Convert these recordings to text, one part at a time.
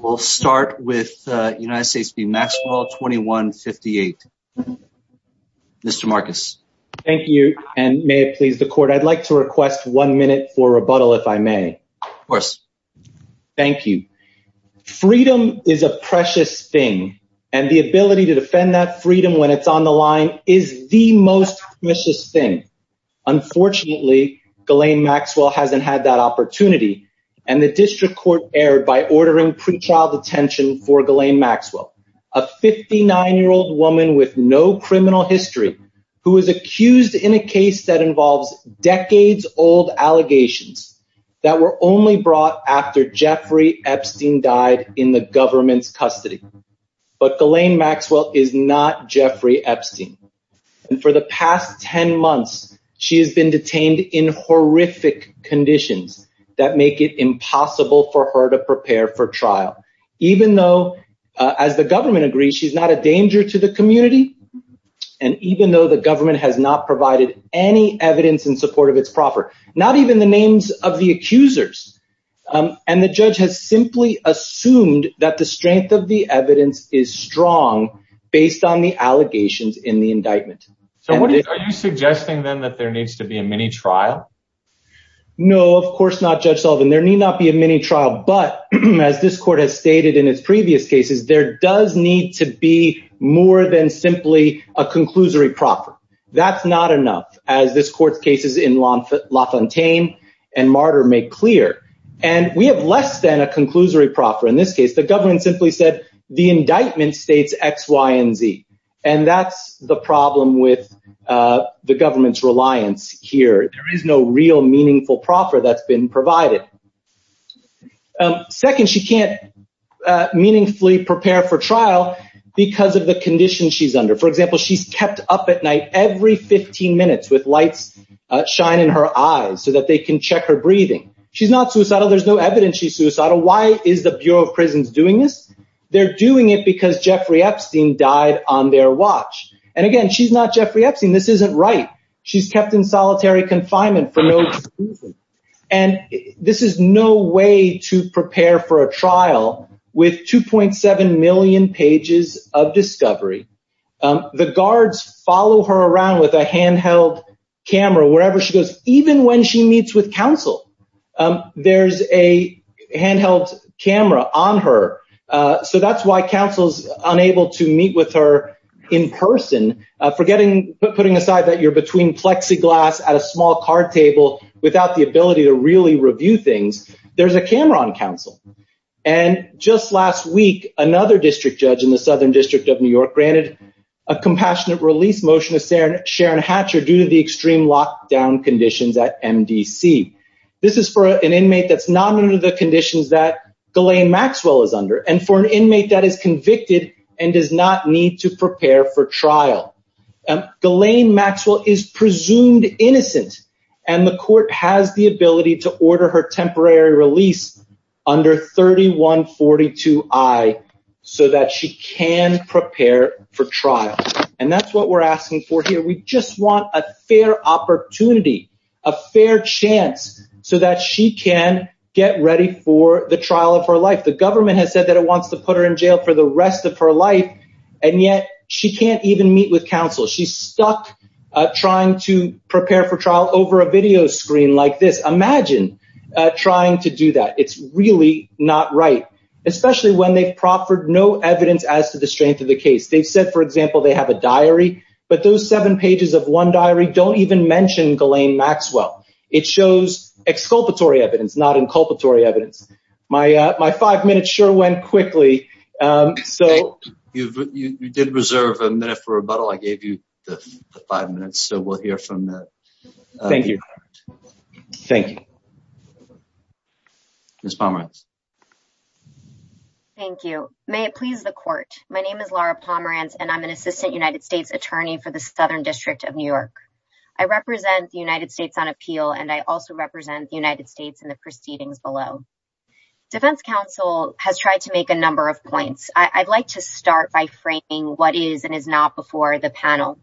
We'll start with United States v. Maxwell 2158. Mr. Marcus. Thank you and may it please the court I'd like to request one minute for rebuttal if I may. Of course. Thank you. Freedom is a precious thing and the ability to defend that freedom when it's on the line is the most precious thing. Unfortunately Ghislaine Maxwell hasn't had that opportunity and the district court erred by ordering pretrial detention for Ghislaine Maxwell, a 59 year old woman with no criminal history who was accused in a case that involves decades-old allegations that were only brought after Jeffrey Epstein died in the government's custody. But Ghislaine Maxwell is not Jeffrey Epstein and for the past 10 months she has been detained in horrific conditions that make it impossible for her to prepare for trial even though as the government agrees she's not a danger to the community and even though the government has not provided any evidence in support of its proffer not even the names of the accusers and the judge has simply assumed that the strength of the evidence is strong based on the allegations in the indictment. So what are you suggesting then that there needs to be a mini trial? No of course not Judge Sullivan there need not be a mini trial but as this court has stated in its previous cases there does need to be more than simply a conclusory proffer. That's not enough as this court's cases in LaFontaine and Martyr make clear and we have less than a conclusory proffer in this case the government simply said the indictment and that's the problem with the government's reliance here there is no real meaningful proffer that's been provided. Second she can't meaningfully prepare for trial because of the condition she's under for example she's kept up at night every 15 minutes with lights shine in her eyes so that they can check her breathing. She's not suicidal there's no evidence she's suicidal why is the Bureau of Prisons doing this? They're doing it because Jeffrey Epstein died on their watch and again she's not Jeffrey Epstein this isn't right she's kept in solitary confinement for no reason and this is no way to prepare for a trial with 2.7 million pages of discovery. The guards follow her around with a handheld camera wherever she goes even when she meets with counsel there's a handheld camera on her so that's why counsel's unable to meet with her in person forgetting putting aside that you're between plexiglass at a small card table without the ability to really review things there's a camera on counsel and just last week another district judge in the Southern District of New York granted a compassionate release motion to Sharon Hatcher due to the extreme lockdown conditions at MDC. This is for an inmate that's not under the conditions that Ghislaine Maxwell is under and for an inmate that is convicted and does not need to prepare for trial. Ghislaine Maxwell is presumed innocent and the court has the ability to order her temporary release under 3142 I so that she can prepare for trial and that's what we're asking for here we just want a fair opportunity a fair chance so that she can get ready for the trial of her life the government has said that it wants to put her in jail for the rest of her life and yet she can't even meet with counsel she's stuck trying to prepare for trial over a video screen like this imagine trying to do that it's really not right especially when they've proffered no evidence as to the strength of the case they've said for example they have a diary but those seven pages of one diary don't even mention Ghislaine Maxwell it shows exculpatory evidence not inculpatory evidence my my five minutes sure went quickly so you did reserve a minute for rebuttal I gave you the five minutes so we'll hear from the thank you thank you thank you may it please the court my name is Laura Pomerantz and I'm an assistant United States attorney for the Southern District of New York I represent the United States on appeal and I also represent the United States and the proceedings below defense counsel has tried to make a number of points I'd like to start by framing what is and is not before the panel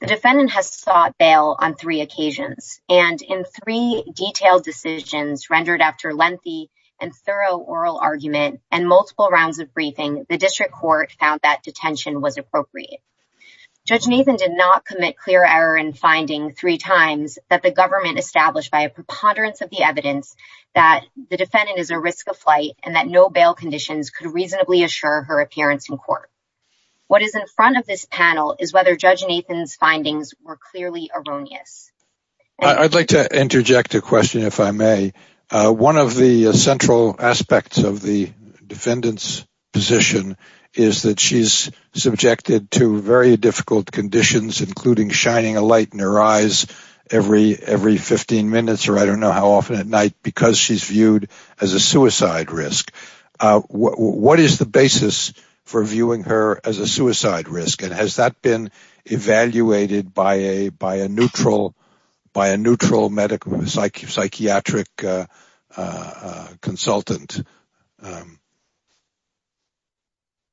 the defendant has sought bail on three occasions and in three detailed decisions rendered after lengthy and thorough oral argument and multiple rounds of briefing the district court found that detention was appropriate judge Nathan did not commit clear error in finding three times that the government established by a preponderance of the evidence that the defendant is a risk of flight and that no bail conditions could reasonably assure her appearance in court what is in front of this panel is whether judge findings were clearly erroneous I'd like to interject a question if I may one of the central aspects of the defendants position is that she's subjected to very difficult conditions including shining a light in her eyes every every 15 minutes or I don't know how often at night because she's viewed as a suicide risk what is the basis for viewing her as a suicide risk and has that been evaluated by a by a neutral by a neutral medical psyche psychiatric consultant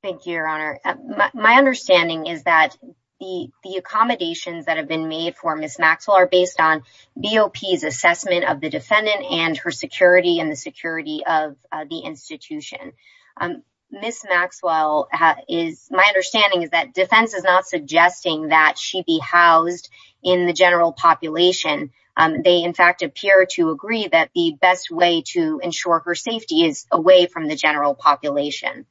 thank you your honor my understanding is that the the accommodations that have been made for miss Maxwell are based on BOPs assessment of the defendant and her security and the security of the institution miss Maxwell is my understanding is that defense is not suggesting that she be housed in the general population they in fact appear to agree that the best way to ensure her safety is away from the general population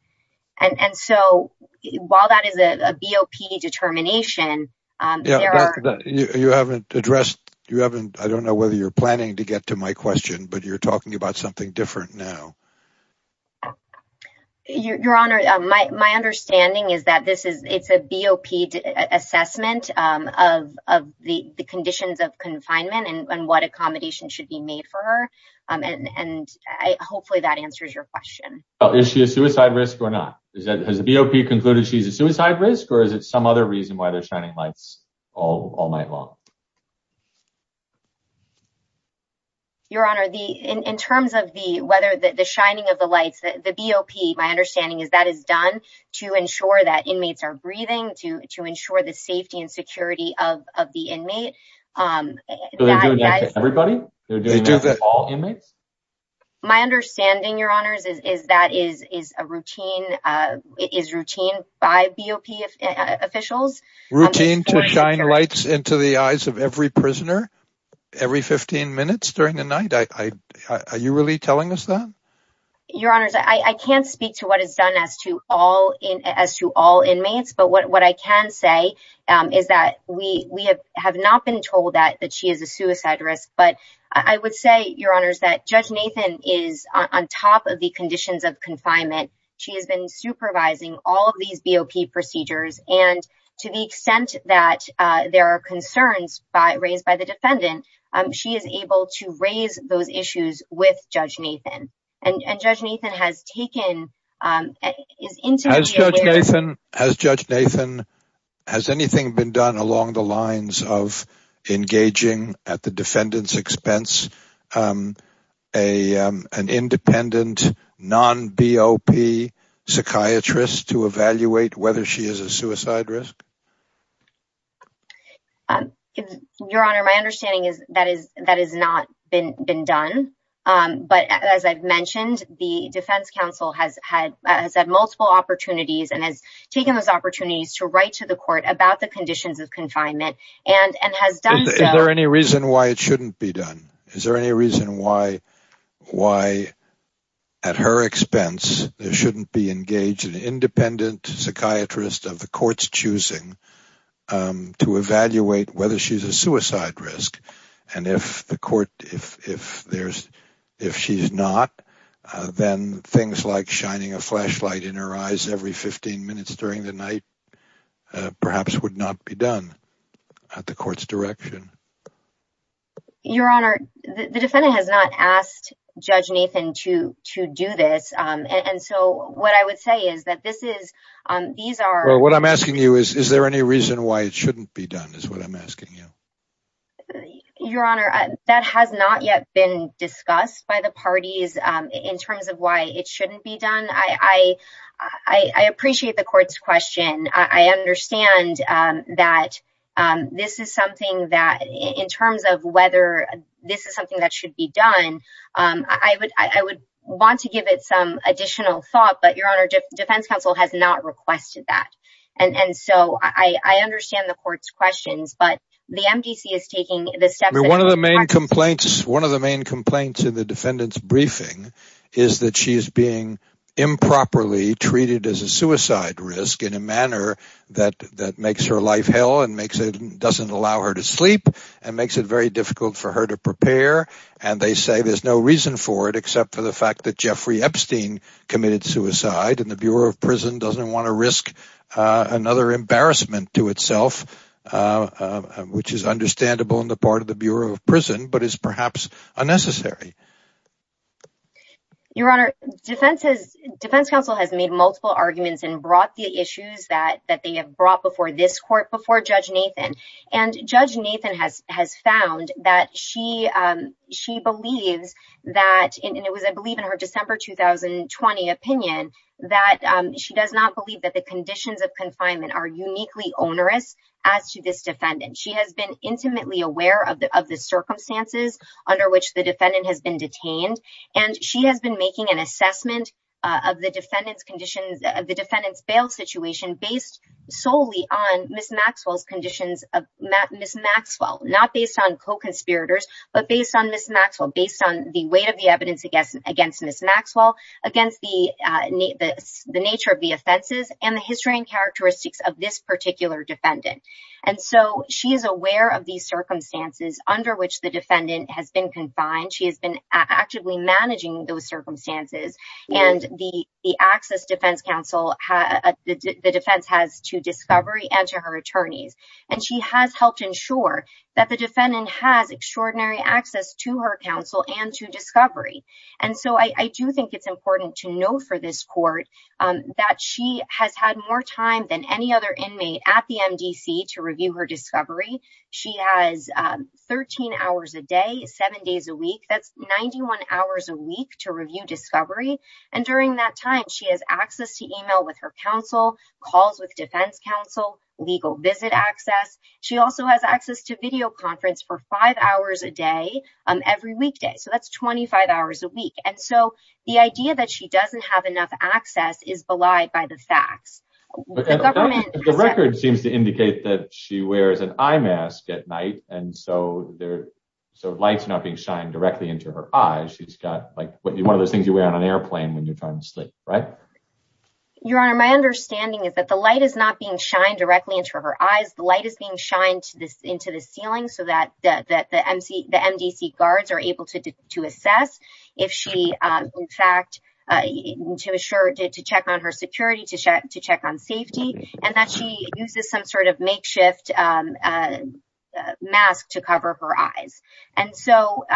and and so while that is a BOP determination you haven't addressed you haven't I don't know whether you're to my question but you're talking about something different now your honor my understanding is that this is it's a BOP assessment of the conditions of confinement and what accommodation should be made for her and hopefully that answers your question oh is she a suicide risk or not is that has the BOP concluded she's a suicide risk or is it some other reason why they're shining lights all all night long your honor the in terms of the weather that the shining of the lights that the BOP my understanding is that is done to ensure that inmates are breathing to ensure the safety and security of the inmate my understanding your honors is that is is a routine is routine by BOP officials routine to shine lights into the eyes of every prisoner every 15 minutes during the night I are you really telling us that your honors I can't speak to what is done as to all in as to all inmates but what I can say is that we we have have not been told that that she is a suicide risk but I would say your honors that judge Nathan is on top of the conditions of confinement she has been supervising all of these BOP procedures and to the extent that there are concerns by raised by the defendant she is able to raise those issues with judge Nathan and judge Nathan has taken as judge Nathan has anything been done along the lines of engaging at the defendant's expense a an independent non BOP psychiatrist to evaluate whether she is a suicide risk your honor my understanding is that is that is not been been done but as I've mentioned the Defense Council has had multiple opportunities and has taken those opportunities to write to the court about the conditions of confinement and and has done there any reason why it shouldn't be done is there any reason why why at her expense there shouldn't be engaged an independent psychiatrist of the courts choosing to evaluate whether she's a suicide risk and if the court if if there's if she's not then things like shining a flashlight in her eyes every 15 minutes during the night perhaps would not be done at the court's your honor the defendant has not asked judge Nathan to to do this and so what I would say is that this is these are what I'm asking you is there any reason why it shouldn't be done is what I'm asking you your honor that has not yet been discussed by the parties in terms of why it shouldn't be done I I appreciate the that in terms of whether this is something that should be done I would I would want to give it some additional thought but your honor defense counsel has not requested that and and so I I understand the court's questions but the MDC is taking this step one of the main complaints one of the main complaints in the defendant's briefing is that she is being improperly treated as a suicide risk in a manner that that makes her life hell and makes it doesn't allow her to sleep and makes it very difficult for her to prepare and they say there's no reason for it except for the fact that Jeffrey Epstein committed suicide and the Bureau of Prison doesn't want to risk another embarrassment to itself which is understandable in the part of the Bureau of Prison but is perhaps unnecessary your honor defense's defense counsel has made multiple arguments and brought the issues that that they have brought before this court before judge Nathan and judge Nathan has has found that she she believes that it was I believe in her December 2020 opinion that she does not believe that the conditions of confinement are uniquely onerous as to this defendant she has been intimately aware of the of the circumstances under which the defendant has been detained and she has been making an assessment of the defendants conditions of the defendants bail situation based solely on miss Maxwell's conditions of miss Maxwell not based on co-conspirators but based on miss Maxwell based on the weight of the evidence against miss Maxwell against the nature of the offenses and the history and characteristics of this particular defendant and so she is aware of these circumstances under which the defendant has been confined she has been actively managing those circumstances and the the access defense counsel the defense has to discovery and to her attorneys and she has helped ensure that the defendant has extraordinary access to her counsel and to discovery and so I do think it's important to know for this court that she has had more time than any other inmate at the MDC to review her discovery she has 13 hours a day seven days a week that's 91 hours a week to review discovery and during that time she has access to email with her counsel calls with defense counsel legal visit access she also has access to video conference for five hours a day on every weekday so that's 25 hours a week and so the idea that she doesn't have enough access is belied by the facts the record seems to indicate that she wears an eye mask at night and so there so lights not being shined directly into her eyes she's got like what do you one of those things you wear on an airplane when you're trying to right your honor my understanding is that the light is not being shined directly into her eyes the light is being shined this into the ceiling so that the MC the MDC guards are able to assess if she in fact to assure did to check on her security to check to check on safety and that she uses some sort of makeshift mask to cover her eyes and so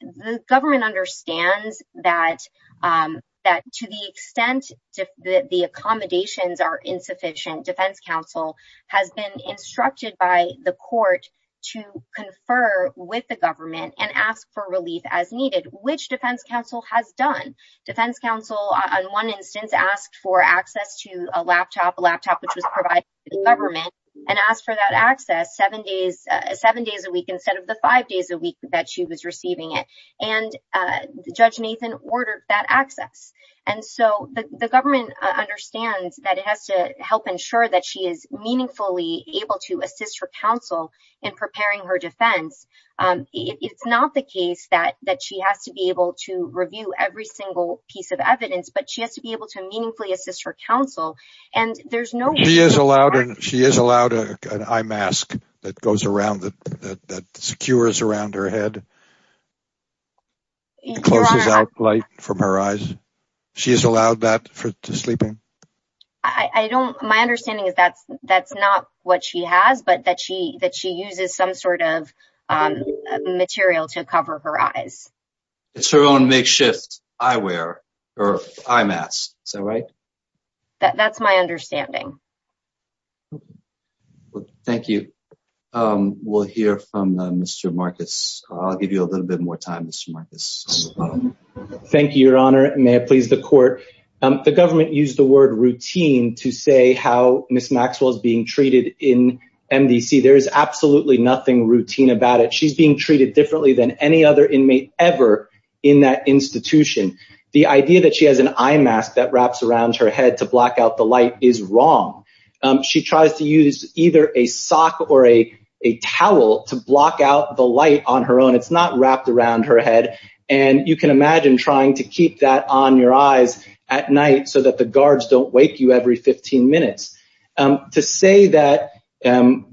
the government understands that that to the extent that the accommodations are insufficient defense counsel has been instructed by the court to confer with the government and ask for relief as needed which defense counsel has done defense counsel on one instance asked for access to a laptop laptop which was provided the government and asked for that access seven days seven days a week instead of the five days a week that she was receiving it and the judge Nathan ordered that access and so the government understands that it has to help ensure that she is meaningfully able to assist her counsel in preparing her defense it's not the case that that she has to be able to review every single piece of evidence but she has to be able to meaningfully assist her counsel and there's no he is allowed and she is allowed an eye mask that goes around that secures around her head light from her eyes she is allowed that for sleeping I don't my understanding is that that's not what she has but that she that she uses some sort of material to cover her eyes it's her own makeshift I wear or I'm asked so right that's my understanding thank you we'll hear from mr. Marcus I'll give you a little bit more time mr. Marcus thank you your honor may it please the court the government used the word routine to say how miss Maxwell's being treated in MDC there is absolutely nothing routine about it she's being treated differently than any other inmate ever in that institution the idea that she has an eye is wrong she tries to use either a sock or a towel to block out the light on her own it's not wrapped around her head and you can imagine trying to keep that on your eyes at night so that the guards don't wake you every 15 minutes to say that and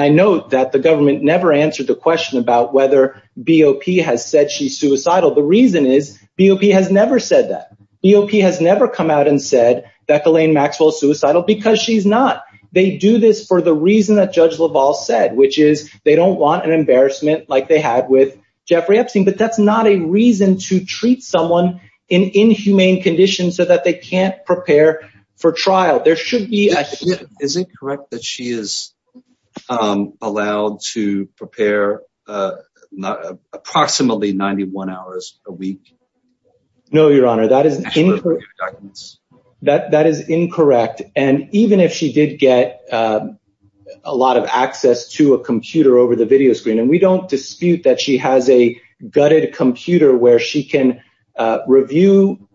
I know that the government never answered the question about whether BOP has said she's suicidal the reason is BOP has never said that BOP has never come out and said that Elaine Maxwell suicidal because she's not they do this for the reason that judge Lavalle said which is they don't want an embarrassment like they had with Jeffrey Epstein but that's not a reason to treat someone in inhumane conditions so that they can't prepare for trial there should be a is it correct that she is allowed to prepare approximately 91 hours a week no your honor that is that that is incorrect and even if she did get a lot of access to a computer over the video screen and we don't dispute that she has a gutted computer where she can review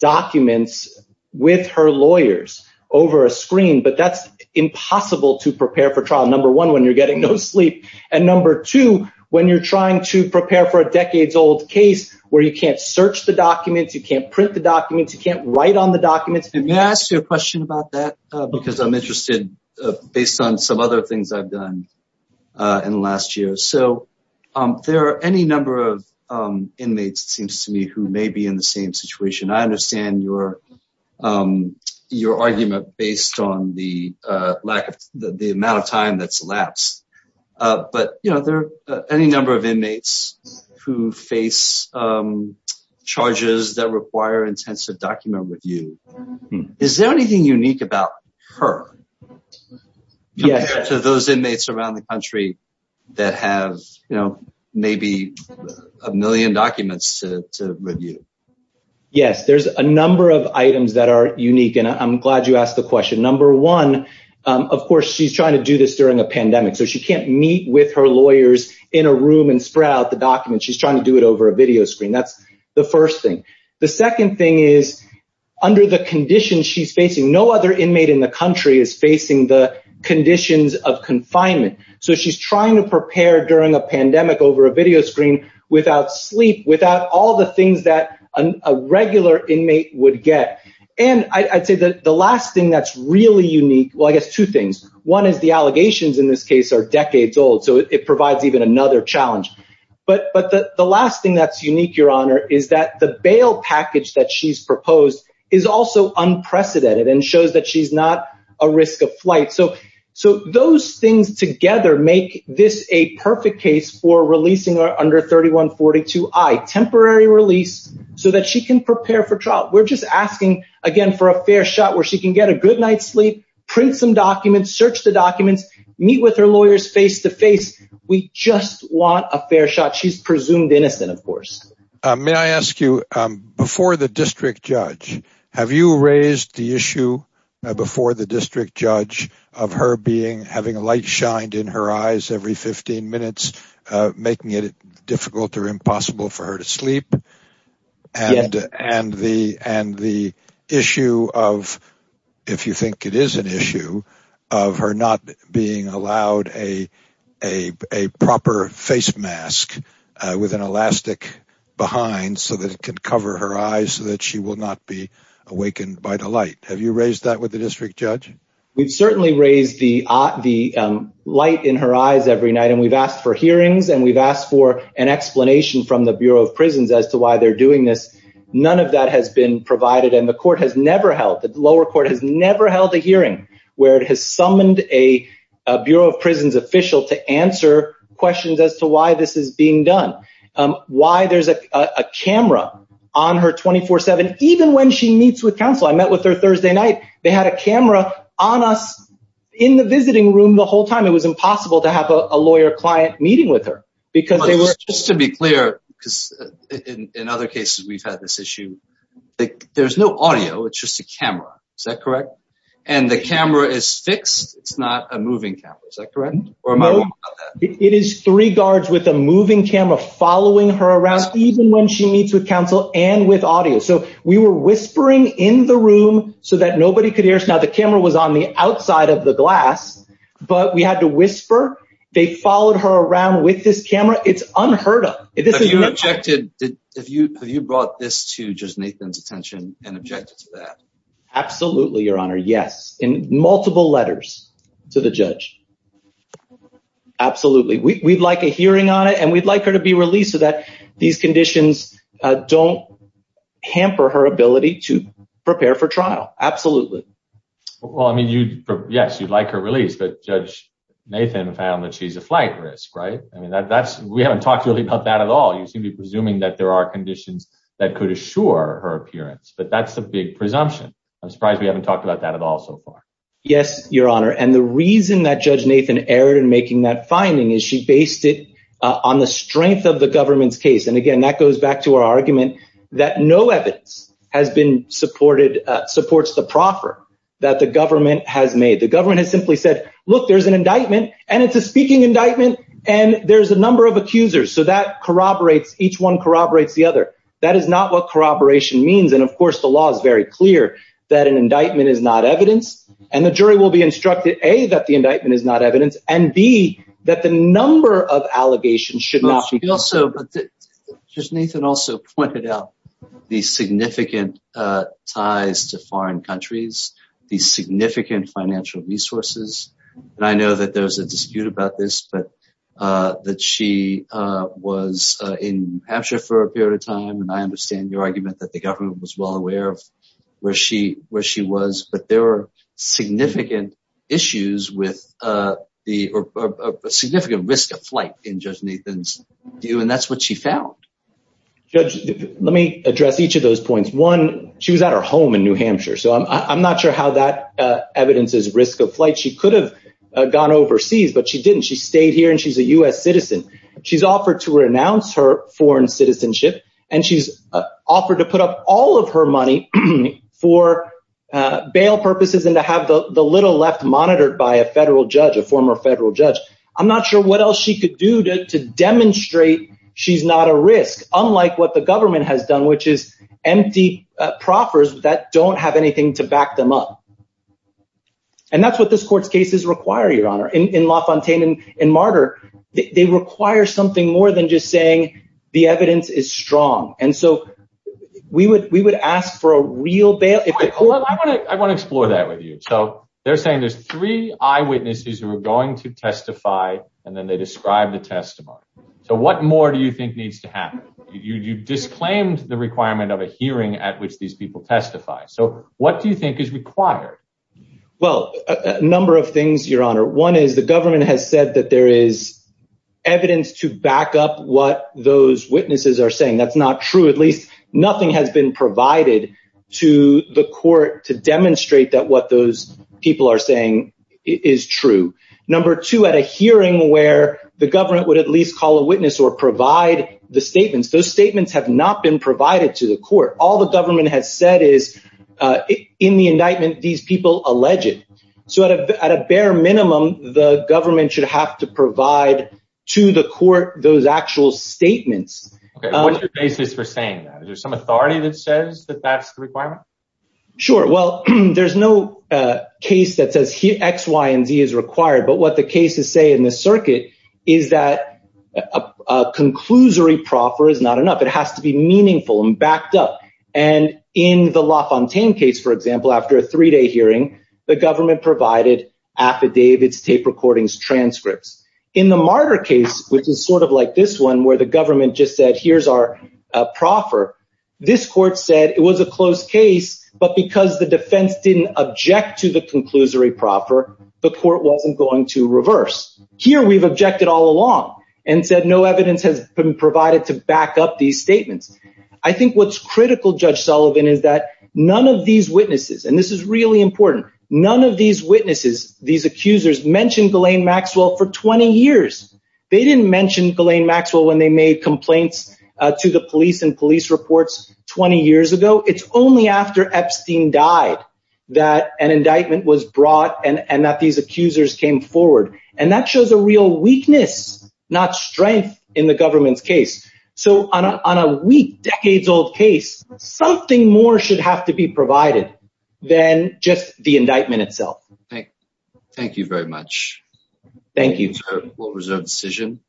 documents with her lawyers over a screen but that's impossible to prepare for trial number one when you're getting no sleep and number two when you're trying to prepare for a decades-old case where you can't search the documents you can't print the documents you can't write on the documents and may I ask you a question about that because I'm interested based on some other things I've done in the last year so there are any number of inmates seems to me who may be in the same situation I understand your your argument based on the lack of the amount of time that's elapsed but you know there any number of inmates who face charges that require intensive document review is there anything unique about her yeah so those inmates around the country that have you know maybe a million documents to review yes there's a number of items that are unique and I'm glad you asked the question number one of course she's trying to do this during a pandemic so she can't meet with her lawyers in a room and spread out the documents she's trying to do it over a video screen that's the first thing the second thing is under the condition she's facing no other inmate in the country is facing the conditions of confinement so she's trying to prepare during a pandemic over a video screen without sleep without all the things that a regular inmate would get and I'd say that the last thing that's really unique well I guess two things one is the allegations in this case are decades old so it provides even another challenge but but the last thing that's unique your honor is that the bail package that she's proposed is also unprecedented and shows that she's not a risk of flight so so those things together make this a perfect case for releasing our under 3142 I temporary release so that she can prepare for trial we're just asking again for a fair shot where she can get a good night's sleep print some documents search the documents meet with her lawyers face to face we just want a fair shot she's presumed innocent of course may I ask you before the district judge have you raised the issue before the district judge of her being having a light shined in her eyes every 15 minutes making it difficult or impossible for her to sleep and and the and the issue of if you think it is an issue of her not being allowed a a proper face mask with an elastic behind so that it could cover her eyes so that she will not be awakened by the light have you raised that with the district judge we've certainly raised the the light in her eyes every night and we've asked for hearings and we've asked for an Bureau of Prisons as to why they're doing this none of that has been provided and the court has never held that the lower court has never held a hearing where it has summoned a Bureau of Prisons official to answer questions as to why this is being done why there's a camera on her 24-7 even when she meets with counsel I met with her Thursday night they had a camera on us in the visiting room the whole time it was impossible to have a lawyer client meeting with her because they were just to be clear because in other cases we've had this issue like there's no audio it's just a camera is that correct and the camera is fixed it's not a moving camera is that correct or am I it is three guards with a moving camera following her around even when she meets with counsel and with audio so we were whispering in the room so that nobody could hear us now the camera was on the outside of the glass but we had to move around with this camera it's unheard of if you objected did if you have you brought this to just Nathan's attention and objected to that absolutely your honor yes in multiple letters to the judge absolutely we'd like a hearing on it and we'd like her to be released so that these conditions don't hamper her ability to prepare for trial absolutely well I mean you yes you'd like her release but judge Nathan found that she's a flight risk right I mean that that's we haven't talked really about that at all you seem to be presuming that there are conditions that could assure her appearance but that's the big presumption I'm surprised we haven't talked about that at all so far yes your honor and the reason that judge Nathan erred in making that finding is she based it on the strength of the government's case and again that goes back to our argument that no evidence has been supported supports the proffer that the government has made the government has simply said look there's an indictment and it's a speaking indictment and there's a number of accusers so that corroborates each one corroborates the other that is not what corroboration means and of course the law is very clear that an indictment is not evidence and the jury will be instructed a that the indictment is not evidence and be that the number of allegations should not be also but just Nathan also pointed out the significant ties to foreign countries these significant financial resources and I know that there's a dispute about this but that she was in Hampshire for a period of time and I understand your argument that the government was well aware of where she where she was but there were significant issues with the significant risk of flight in judge do and that's what she found judge let me address each of those points one she was at her home in New Hampshire so I'm not sure how that evidence is risk of flight she could have gone overseas but she didn't she stayed here and she's a US citizen she's offered to renounce her foreign citizenship and she's offered to put up all of her money for bail purposes and to have the little left monitored by a federal judge a former federal judge I'm not sure what else she could do to demonstrate she's not a risk unlike what the government has done which is empty proffers that don't have anything to back them up and that's what this court's cases require your honor in LaFontaine and in Martyr they require something more than just saying the evidence is strong and so we would we would ask for a real bail if I want to explore that with you so they're saying there's three eyewitnesses who are going to testify and then they describe the testimony so what more do you think needs to happen you disclaimed the requirement of a hearing at which these people testify so what do you think is required well a number of things your honor one is the government has said that there is evidence to back up what those witnesses are saying that's not true at least nothing has been provided to the court to demonstrate that what those people are saying is true number two at a hearing where the government would at least call a witness or provide the statements those statements have not been provided to the court all the government has said is in the indictment these people alleged so at a bare minimum the government should have to provide to the court those actual statements basis for saying that there's authority that says that that's the requirement sure well there's no case that says he XY and Z is required but what the cases say in this circuit is that a conclusory proffer is not enough it has to be meaningful and backed up and in the LaFontaine case for example after a three-day hearing the government provided affidavits tape recordings transcripts in the martyr case which is sort of like this one where the government just said here's our proffer this court said it was a closed case but because the defense didn't object to the conclusory proffer the court wasn't going to reverse here we've objected all along and said no evidence has been provided to back up these statements I think what's critical judge Sullivan is that none of these witnesses and this is really important none of these witnesses these accusers mentioned Elaine Maxwell for 20 years they didn't mention Elaine Maxwell when they made complaints to the police and police reports 20 years ago it's only after Epstein died that an indictment was brought and and that these accusers came forward and that shows a real weakness not strength in the government's case so on a week decades old case something more should have to be provided then just the little reserve decision